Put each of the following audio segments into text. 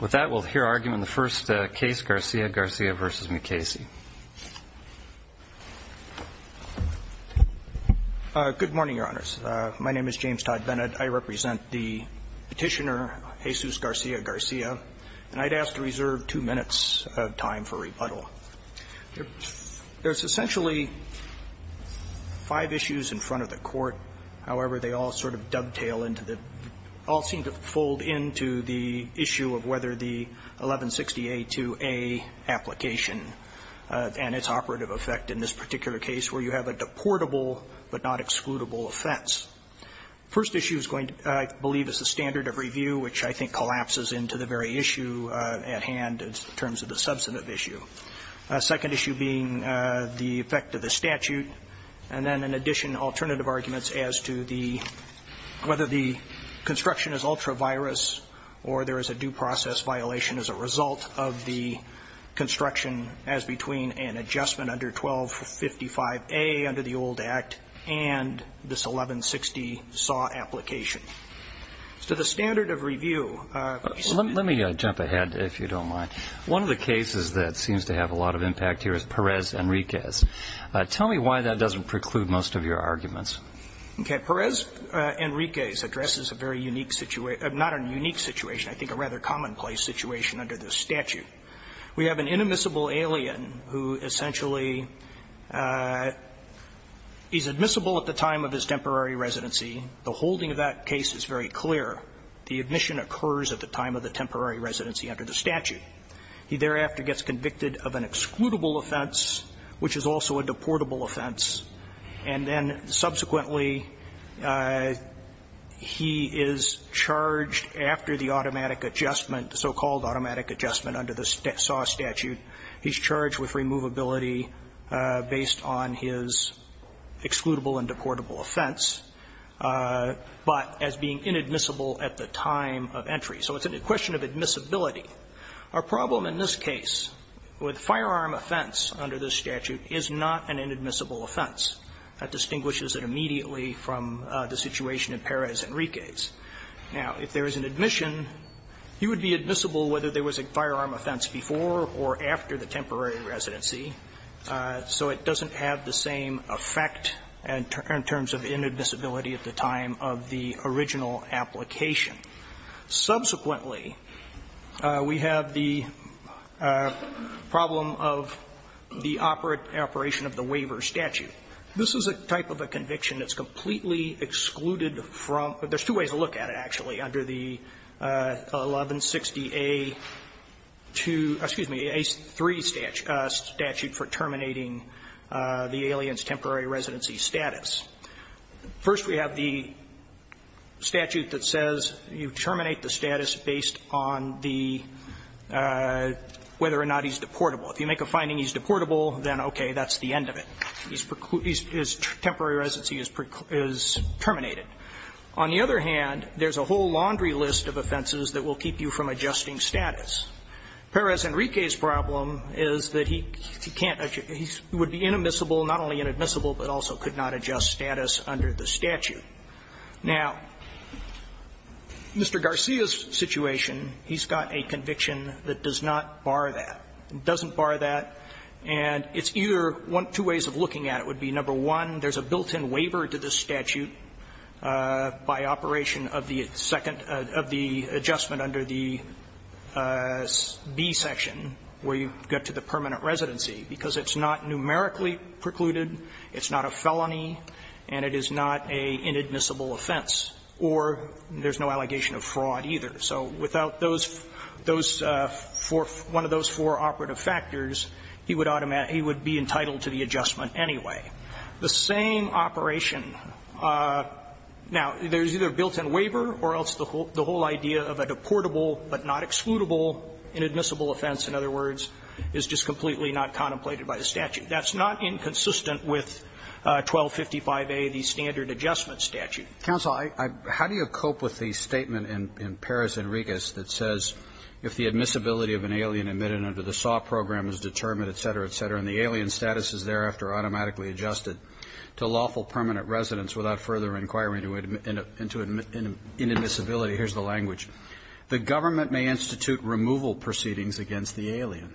With that, we'll hear argument in the first case, Garcia-Garcia v. Mukasey. Good morning, Your Honors. My name is James Todd Bennett. I represent the petitioner, Jesus Garcia-Garcia, and I'd ask to reserve two minutes of time for rebuttal. There's essentially five issues in front of the court. However, they all sort of dovetail into the – all seem to fold into the issue of whether the 1160A2A application and its operative effect in this particular case where you have a deportable but not excludable offense. First issue is going to, I believe, is the standard of review, which I think collapses into the very issue at hand in terms of the substantive issue. Second issue being the effect of the statute. And then, in addition, alternative arguments as to the – whether the construction is ultra-virus or there is a due process violation as a result of the construction as between an adjustment under 1255A under the old Act and this 1160 SAW application. As to the standard of review – Let me jump ahead, if you don't mind. One of the cases that seems to have a lot of impact here is Perez-Enriquez. Tell me why that doesn't preclude most of your arguments. Okay. Perez-Enriquez addresses a very unique – not a unique situation, I think a rather commonplace situation under this statute. We have an inadmissible alien who essentially is admissible at the time of his temporary residency. The holding of that case is very clear. He thereafter gets convicted of an excludable offense, which is also a deportable offense, and then subsequently he is charged after the automatic adjustment, the so-called automatic adjustment under the SAW statute. He's charged with removability based on his excludable and deportable offense, but as being inadmissible at the time of entry. So it's a question of admissibility. Our problem in this case with firearm offense under this statute is not an inadmissible offense. That distinguishes it immediately from the situation in Perez-Enriquez. Now, if there is an admission, he would be admissible whether there was a firearm offense before or after the temporary residency, so it doesn't have the same effect in terms of inadmissibility at the time of the original application. Subsequently, we have the problem of the operation of the waiver statute. This is a type of a conviction that's completely excluded from there's two ways to look at it, actually, under the 1160A2, excuse me, A3 statute for terminating the alien's temporary residency status. First, we have the statute that says you terminate the status based on the whether or not he's deportable. If you make a finding he's deportable, then okay, that's the end of it. His temporary residency is terminated. On the other hand, there's a whole laundry list of offenses that will keep you from adjusting status. Perez-Enriquez's problem is that he can't adjust. He would be inadmissible, not only inadmissible, but also could not adjust status under the statute. Now, Mr. Garcia's situation, he's got a conviction that does not bar that. It doesn't bar that, and it's either one of two ways of looking at it. It would be, number one, there's a built-in waiver to this statute by operation of the second of the adjustment under the B section where you get to the permanent residency, because it's not numerically precluded, it's not a felony, and it is not an inadmissible offense, or there's no allegation of fraud either. So without those four, one of those four operative factors, he would be entitled to the adjustment anyway. The same operation, now, there's either a built-in waiver or else the whole idea of a deportable but not excludable inadmissible offense, in other words, is just completely not contemplated by the statute. That's not inconsistent with 1255A, the standard adjustment statute. Roberts, how do you cope with the statement in Paris and Regas that says if the admissibility of an alien admitted under the SAW program is determined, et cetera, et cetera, and the alien status is thereafter automatically adjusted to lawful permanent residence without further inquiry into inadmissibility, here's the language, the government may institute removal proceedings against the alien,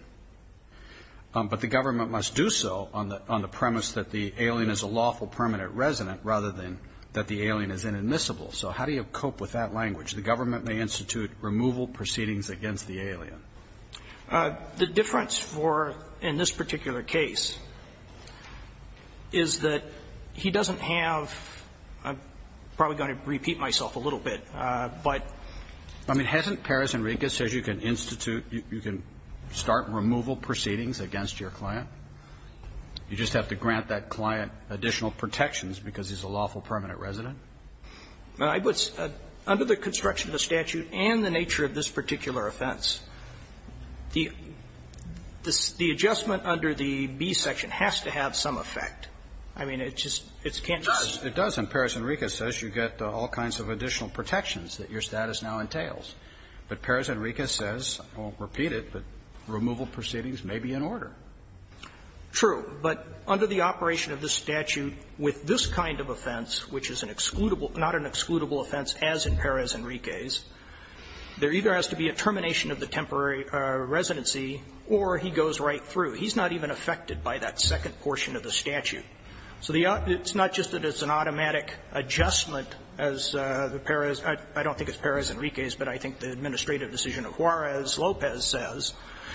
but the government must do so on the premise that the alien is a lawful permanent resident rather than that the alien is inadmissible. So how do you cope with that language? The government may institute removal proceedings against the alien. The difference for, in this particular case, is that he doesn't have – I'm probably going to repeat myself a little bit, but – I mean, hasn't Paris and Regas said you can institute – you can start removal proceedings against your client? You just have to grant that client additional protections because he's a lawful permanent resident? I would – under the construction of the statute and the nature of this particular offense, the adjustment under the B section has to have some effect. I mean, it just – it can't just – It does, and Paris and Regas says you get all kinds of additional protections that your status now entails. But Paris and Regas says, I won't repeat it, but removal proceedings may be in order. True, but under the operation of the statute with this kind of offense, which is an excludable – not an excludable offense as in Paris and Regas, there either has to be a termination of the temporary residency or he goes right through. He's not even affected by that second portion of the statute. So the – it's not just that it's an automatic adjustment as the Paris – I don't think it's Paris and Regas, but I think the administrative decision of Juarez Lopez says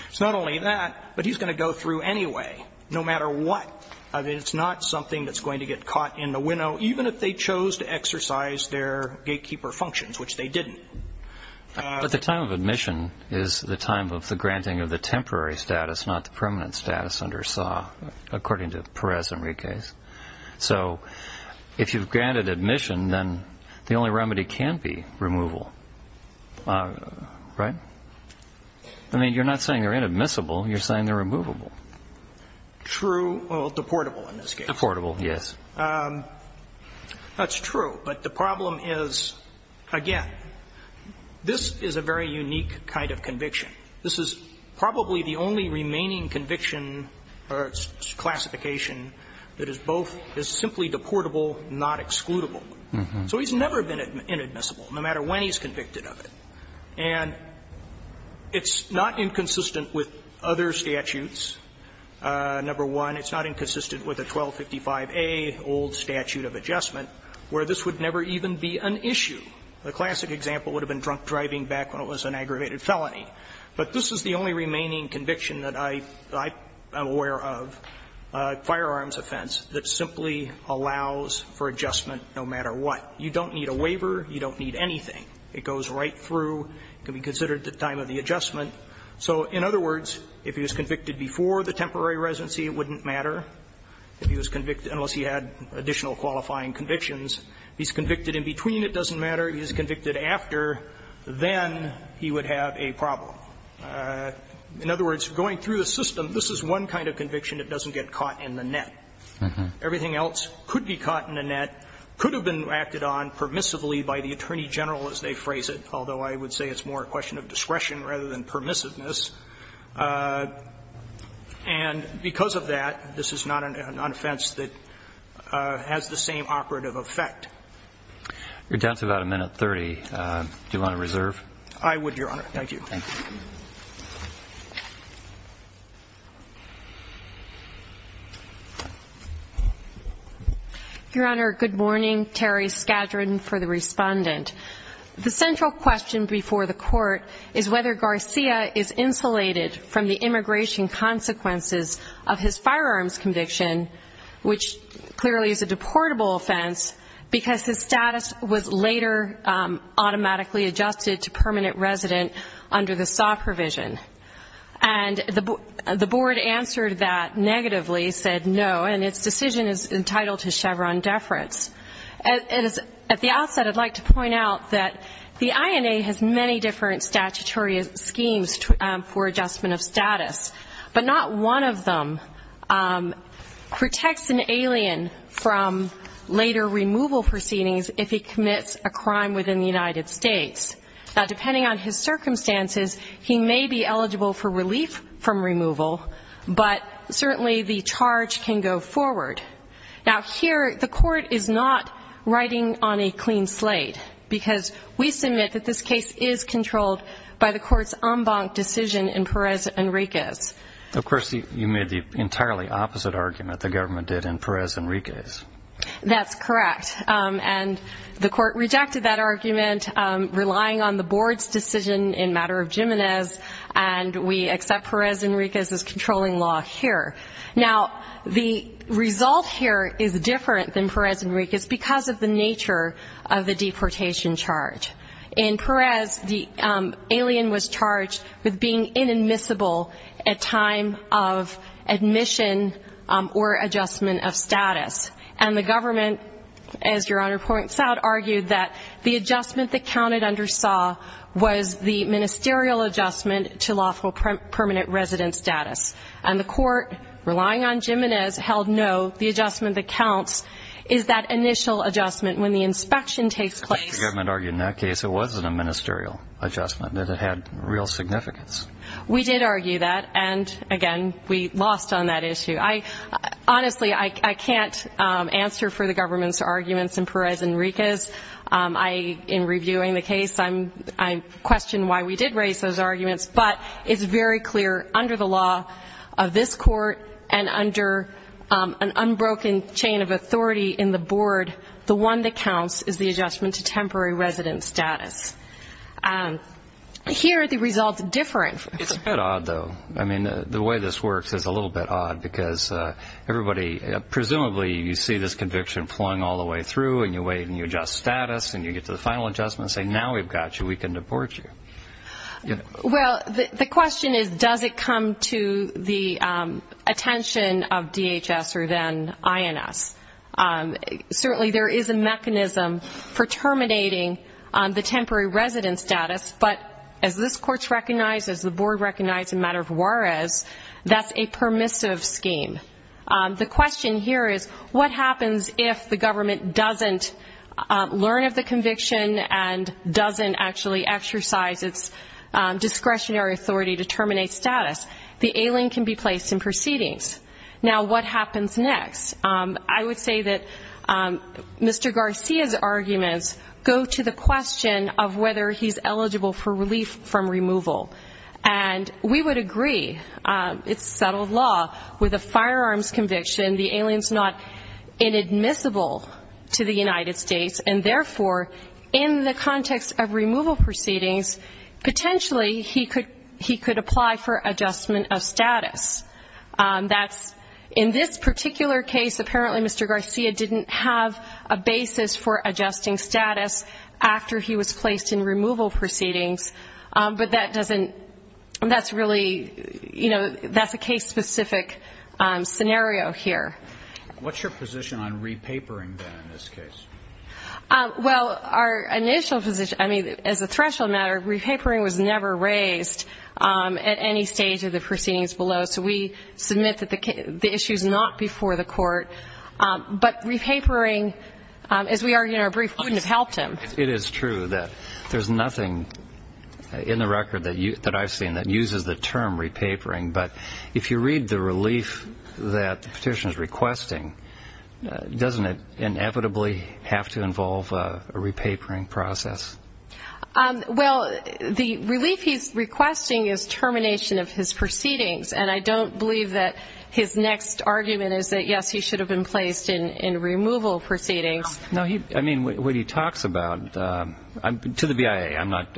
it's not only that, but he's going to go through anyway, no matter what. I mean, it's not something that's going to get caught in the winnow, even if they chose to exercise their gatekeeper functions, which they didn't. But the time of admission is the time of the granting of the temporary status, not the permanent status under SAW, according to Paris and Regas. So if you've granted admission, then the only remedy can be removal, right? I mean, you're not saying they're inadmissible. You're saying they're removable. True. Well, deportable in this case. Deportable, yes. That's true. But the problem is, again, this is a very unique kind of conviction. This is probably the only remaining conviction or classification that is both – is simply deportable, not excludable. So he's never been inadmissible, no matter when he's convicted of it. And it's not inconsistent with other statutes. Number one, it's not inconsistent with the 1255a old statute of adjustment, where this would never even be an issue. The classic example would have been drunk driving back when it was an aggravated felony. But this is the only remaining conviction that I am aware of, a firearms offense, that simply allows for adjustment no matter what. You don't need a waiver. You don't need anything. It goes right through. It can be considered the time of the adjustment. So in other words, if he was convicted before the temporary residency, it wouldn't matter if he was convicted unless he had additional qualifying convictions. If he's convicted in between, it doesn't matter. If he's convicted after, then he would have a problem. In other words, going through the system, this is one kind of conviction that doesn't get caught in the net. Everything else could be caught in the net, could have been acted on permissively by the attorney general, as they phrase it, although I would say it's more a question of discretion rather than permissiveness. And because of that, this is not an offense that has the same operative effect. You're down to about a minute 30. Do you want to reserve? I would, Your Honor. Thank you. Your Honor, good morning. Terry Skadron for the respondent. The central question before the court is whether Garcia is insulated from the immigration consequences of his firearms conviction, which clearly is a deportable offense because his status was later automatically adjusted to permanent resident under the SAW provision. And the board answered that negatively, said no, and its decision is entitled to Chevron deference. At the outset, I'd like to point out that the INA has many different statutory schemes for adjustment of status. But not one of them protects an alien from later removal proceedings if he commits a crime within the United States. Now, depending on his circumstances, he may be eligible for relief from removal, but certainly the charge can go forward. Now, here, the court is not writing on a clean slate because we submit that this case is Of course, you made the entirely opposite argument the government did in Perez Enriquez. That's correct. And the court rejected that argument, relying on the board's decision in matter of Jimenez, and we accept Perez Enriquez as controlling law here. Now, the result here is different than Perez Enriquez because of the nature of the deportation charge. In Perez, the alien was charged with being inadmissible at time of admission or adjustment of status. And the government, as Your Honor points out, argued that the adjustment that counted under SAW was the ministerial adjustment to lawful permanent resident status. And the court, relying on Jimenez, held no. The adjustment that counts is that initial adjustment when the inspection takes place. The government argued in that case it wasn't a ministerial adjustment, that it had real significance. We did argue that, and again, we lost on that issue. Honestly, I can't answer for the government's arguments in Perez Enriquez. In reviewing the case, I question why we did raise those arguments, but it's very clear under the law of this court and under an unbroken chain of authority in the board, the one that counts is temporary resident status. Here, the result's different. It's a bit odd, though. I mean, the way this works is a little bit odd because everybody, presumably, you see this conviction flung all the way through, and you wait, and you adjust status, and you get to the final adjustment and say, now we've got you. We can deport you. Well, the question is, does it come to the attention of DHS or then INS? Certainly, there is a mechanism for terminating the temporary resident status, but as this court's recognized, as the board recognized in matter of Juarez, that's a permissive scheme. The question here is, what happens if the government doesn't learn of the conviction and doesn't actually exercise its discretionary authority to terminate status? The alien can be placed in proceedings. Now, what happens next? I would say that Mr. Garcia's arguments go to the question of whether he's eligible for relief from removal, and we would agree. It's settled law with a firearms conviction. The alien's not inadmissible to the United States, and therefore, in the context of removal proceedings, potentially, he could apply for adjustment of status. That's, in this particular case, apparently, Mr. Garcia didn't have a basis for adjusting status after he was placed in removal proceedings, but that doesn't, that's really, you know, that's a case-specific scenario here. What's your position on repapering, then, in this case? Well, our initial position, I mean, as a threshold matter, repapering was never raised at any stage of the proceedings below, so we submit that the issue's not before the court, but repapering, as we argued in our brief, wouldn't have helped him. It is true that there's nothing in the record that I've seen that uses the term repapering, but if you read the relief that the petitioner's requesting, doesn't it inevitably have to involve a repapering process? Well, the relief he's requesting is termination of his proceedings, and I don't believe that his next argument is that, yes, he should have been placed in removal proceedings. No, he, I mean, what he talks about, to the BIA, I'm not,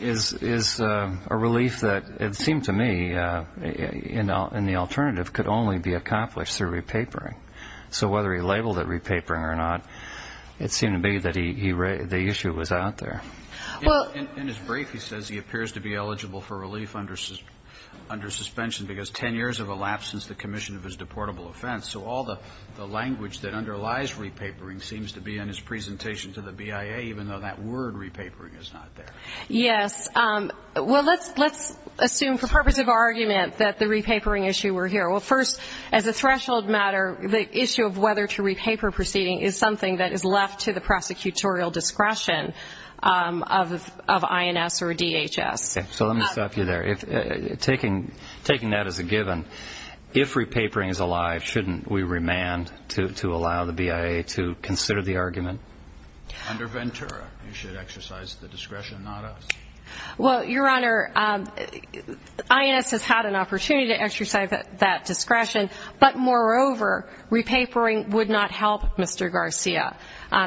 is a relief that, it seemed to me, in the alternative, could only be accomplished through repapering. So whether he labeled it repapering or not, it seemed to me that the issue was out there. In his brief, he says he appears to be eligible for relief under suspension because 10 years have elapsed since the commission of his deportable offense, so all the language that underlies repapering seems to be in his presentation to the BIA, even though that word, repapering, is not there. Yes, well, let's assume, for purpose of argument, that the repapering issue were here. Well, first, as a threshold matter, the issue of whether to repaper proceeding is something that is left to the prosecutorial discretion of INS or DHS. So let me stop you there. Taking that as a given, if repapering is alive, shouldn't we remand to allow the BIA to consider the argument? Under Ventura, you should exercise the discretion, not us. Well, Your Honor, INS has had an opportunity to exercise that discretion, but moreover, repapering would not help Mr. Garcia.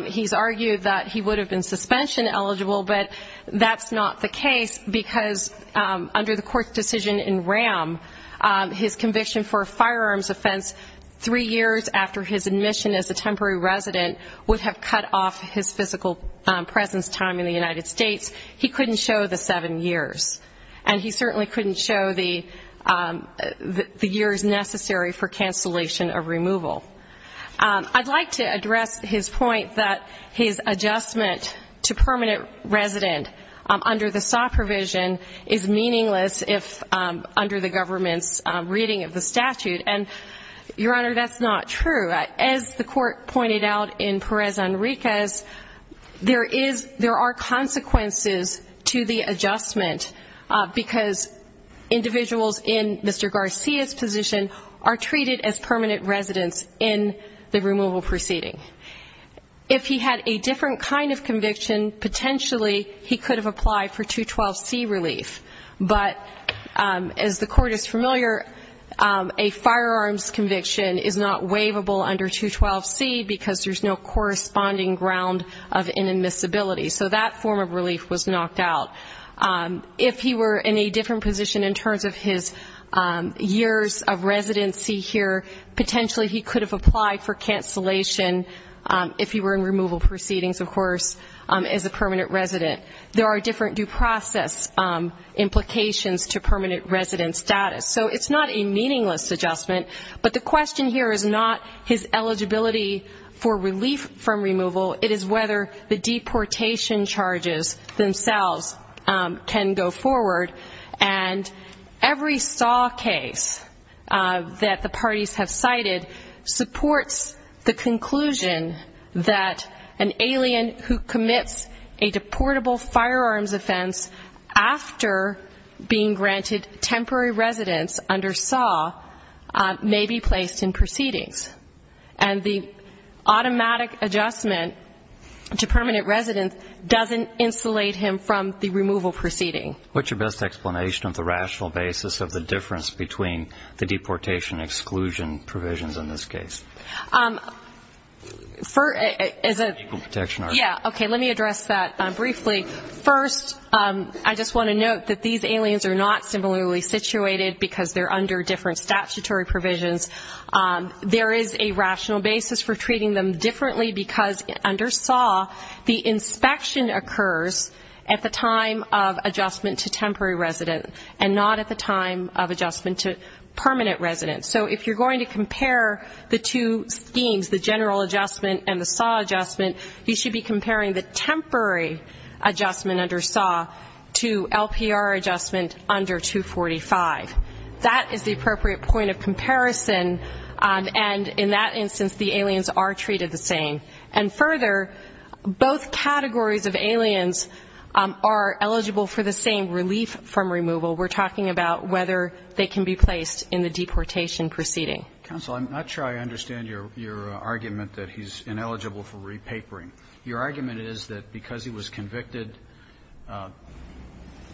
He's argued that he would have been suspension eligible, but that's not the case because under the court's decision in RAM, his conviction for a firearms offense three years after his admission as a temporary resident would have cut off his physical presence time in the United States. He couldn't show the seven years, and he certainly couldn't show the years necessary for cancellation of removal. I'd like to address his point that his adjustment to permanent resident under the SAW provision is meaningless under the government's reading of the statute, and, Your Honor, that's not true. As the court pointed out in Perez-Enriquez, there are consequences to the adjustment because individuals in Mr. Garcia's position are treated as permanent residents in the removal proceeding. If he had a different kind of conviction, potentially he could have applied for 212C because there's no corresponding ground of inadmissibility. So that form of relief was knocked out. If he were in a different position in terms of his years of residency here, potentially he could have applied for cancellation if he were in removal proceedings, of course, as a permanent resident. There are different due process implications to permanent resident status. So it's not a meaningless adjustment, but the question here is not his eligibility for relief from removal. It is whether the deportation charges themselves can go forward, and every SAW case that the parties have cited supports the conclusion that an alien who commits a deportable firearms offense after being granted temporary residence under SAW may be placed in proceedings. And the automatic adjustment to permanent residence doesn't insulate him from the removal proceeding. What's your best explanation of the rational basis of the difference between the deportation exclusion provisions in this case? For, as a, yeah, okay, let me address that briefly. First, I just want to note that these aliens are not similarly situated because they're under different statutory provisions. There is a rational basis for treating them differently because under SAW, the inspection occurs at the time of adjustment to temporary resident and not at the time of adjustment to permanent resident. So if you're going to compare the two schemes, the general adjustment and the SAW adjustment, you should be comparing the temporary adjustment under SAW to LPR adjustment under 245. That is the appropriate point of comparison, and in that instance, the aliens are treated the same. And further, both categories of aliens are eligible for the same relief from removal. We're talking about whether they can be placed in the deportation proceeding. Counsel, I'm not sure I understand your argument that he's ineligible for repapering. Your argument is that because he was convicted,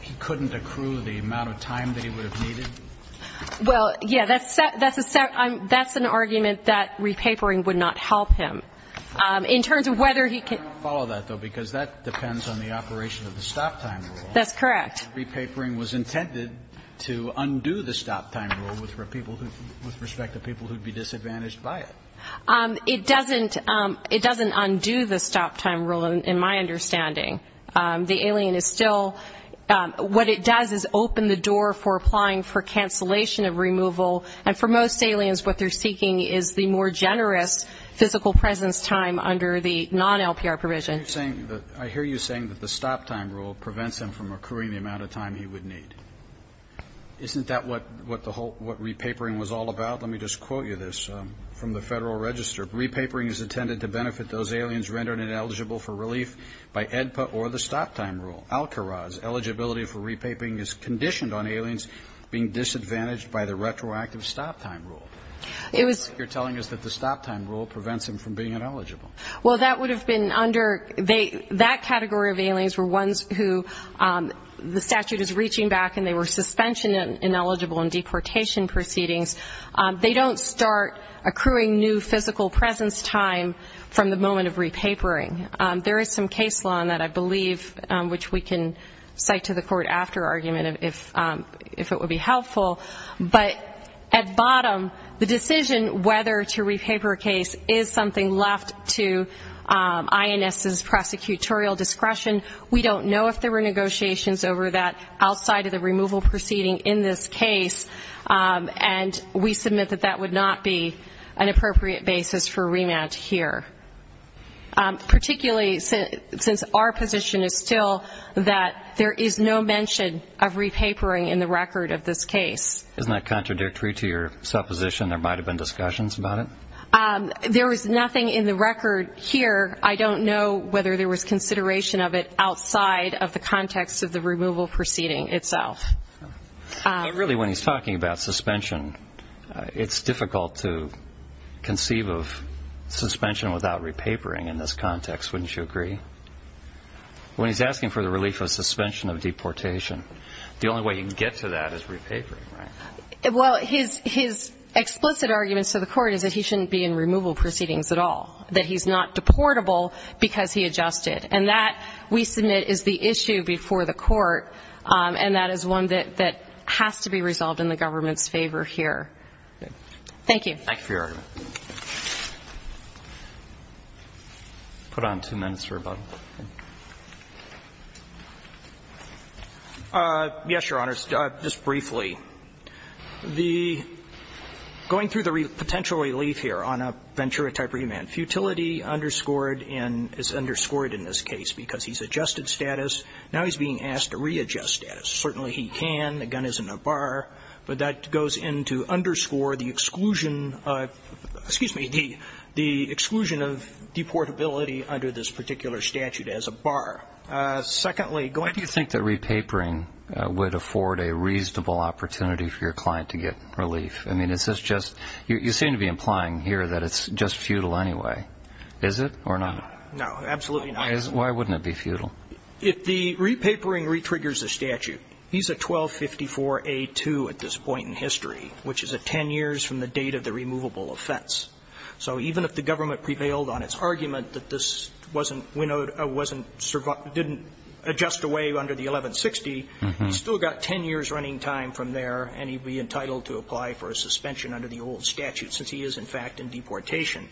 he couldn't accrue the amount of time that he would have needed? Well, yeah, that's an argument that repapering would not help him. In terms of whether he could follow that, though, because that depends on the operation of the stop time rule. That's correct. Repapering was intended to undo the stop time rule with respect to people who would be disadvantaged by it. It doesn't undo the stop time rule, in my understanding. The alien is still, what it does is open the door for applying for cancellation of removal, and for most aliens, what they're seeking is the more generous physical presence time under the non-LPR provision. I hear you saying that the stop time rule prevents him from accruing the amount of time he would need. Isn't that what the whole, what repapering was all about? Let me just quote you this from the Federal Register. Repapering is intended to benefit those aliens rendered ineligible for relief by AEDPA or the stop time rule. Al-Kharaz, eligibility for repapering is conditioned on aliens being disadvantaged by the retroactive stop time rule. It was. You're telling us that the stop time rule prevents him from being ineligible. Well, that would have been under, that category of aliens were ones who the statute is reaching back and they were suspension ineligible in deportation proceedings. They don't start accruing new physical presence time from the moment of repapering. There is some case law on that, I believe, which we can cite to the court after argument if it would be helpful. But at bottom, the decision whether to repaper a case is something left to INS's prosecutorial discretion. We don't know if there were negotiations over that outside of the removal proceeding in this case. And we submit that that would not be an appropriate basis for remand here. Particularly since our position is still that there is no mention of repapering in the record of this case. Isn't that contradictory to your supposition? There might have been discussions about it. There was nothing in the record here. I don't know whether there was consideration of it outside of the context of the removal proceeding itself. But really, when he's talking about suspension, it's difficult to conceive of suspension without repapering in this context. Wouldn't you agree? When he's asking for the relief of suspension of deportation, the only way you can get to that is repapering, right? Well, his explicit argument to the Court is that he shouldn't be in removal proceedings at all, that he's not deportable because he adjusted. And that, we submit, is the issue before the Court, and that is one that has to be resolved in the government's favor here. Thank you. Thank you for your argument. Put on two minutes for rebuttal. Yes, Your Honor, just briefly. The going through the potential relief here on a Ventura-type remand, futility underscored and is underscored in this case because he's adjusted status. Now he's being asked to readjust status. Certainly he can, the gun is in a bar, but that goes in to underscore the exclusion excuse me, the exclusion of deportability under this particular statute as a bar. Secondly, go ahead. Do you think that repapering would afford a reasonable opportunity for your client to get relief? I mean, is this just, you seem to be implying here that it's just futile anyway. Is it or not? No, absolutely not. Why wouldn't it be futile? If the repapering retriggers the statute, he's a 1254A2 at this point in history, which is 10 years from the date of the removable offense. So even if the government prevailed on its argument that this wasn't, didn't adjust away under the 1160, he's still got 10 years running time from there and he'd be entitled to apply for a suspension under the old statute since he is in fact in deportation.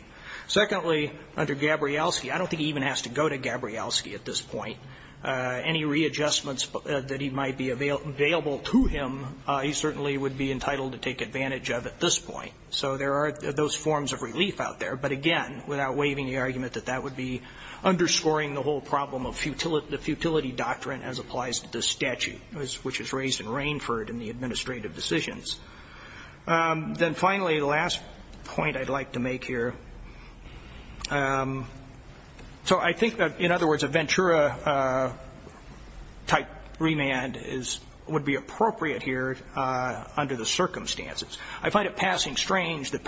Secondly, under Gabrielski, I don't think he even has to go to Gabrielski at this point. Any readjustments that might be available to him, he certainly would be entitled to take advantage of at this point. So there are those forms of relief out there. But again, without waiving the argument that that would be underscoring the whole problem of the futility doctrine as applies to this statute, which is raised in Rainford in the administrative decisions. Then finally, the last point I'd like to make here. So I think that, in other words, a Ventura-type remand would be appropriate here under the circumstances. I find it passing strange that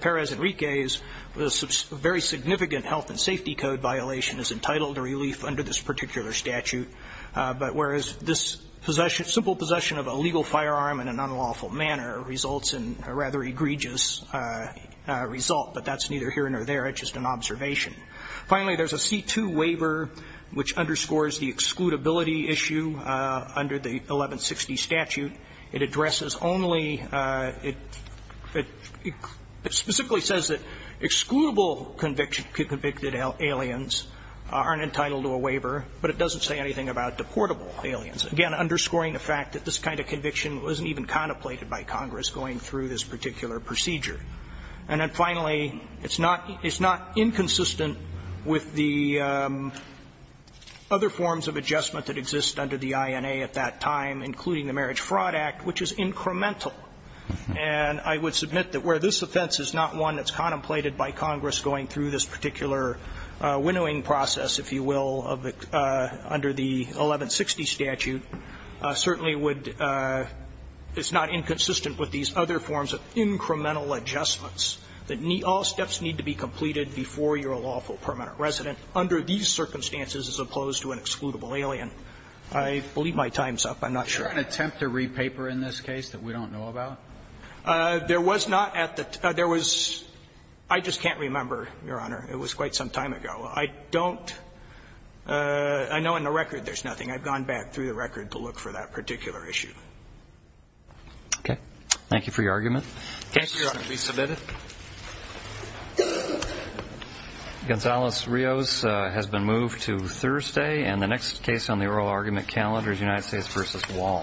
Perez Enrique's very significant health and safety code violation is entitled to relief under this particular statute. But whereas this simple possession of a legal firearm in an unlawful manner results in a rather egregious result, but that's neither here nor there. It's just an observation. Finally, there's a C-2 waiver which underscores the excludability issue under the 1160 statute. It addresses only the ---- it specifically says that excludable convicted aliens aren't entitled to a waiver, but it doesn't say anything about deportable aliens. Again, underscoring the fact that this kind of conviction wasn't even contemplated by Congress going through this particular procedure. And then finally, it's not inconsistent with the other forms of adjustment that exist under the INA at that time, including the Marriage Fraud Act, which is incremental. And I would submit that where this offense is not one that's contemplated by Congress going through this particular winnowing process, if you will, under the 1160 statute, certainly would ---- it's not inconsistent with these other forms of incremental adjustments that all steps need to be completed before you're a lawful permanent resident under these circumstances as opposed to an excludable alien. I believe my time's up. I'm not sure. Do you have an attempt to re-paper in this case that we don't know about? There was not at the ---- there was ---- I just can't remember, Your Honor. It was quite some time ago. I don't ---- I know in the record there's nothing. I've gone back through the record to look for that particular issue. Okay. Thank you for your argument. Thank you, Your Honor. Please submit it. Gonzales-Rios has been moved to Thursday. And the next case on the oral argument calendar is United States v.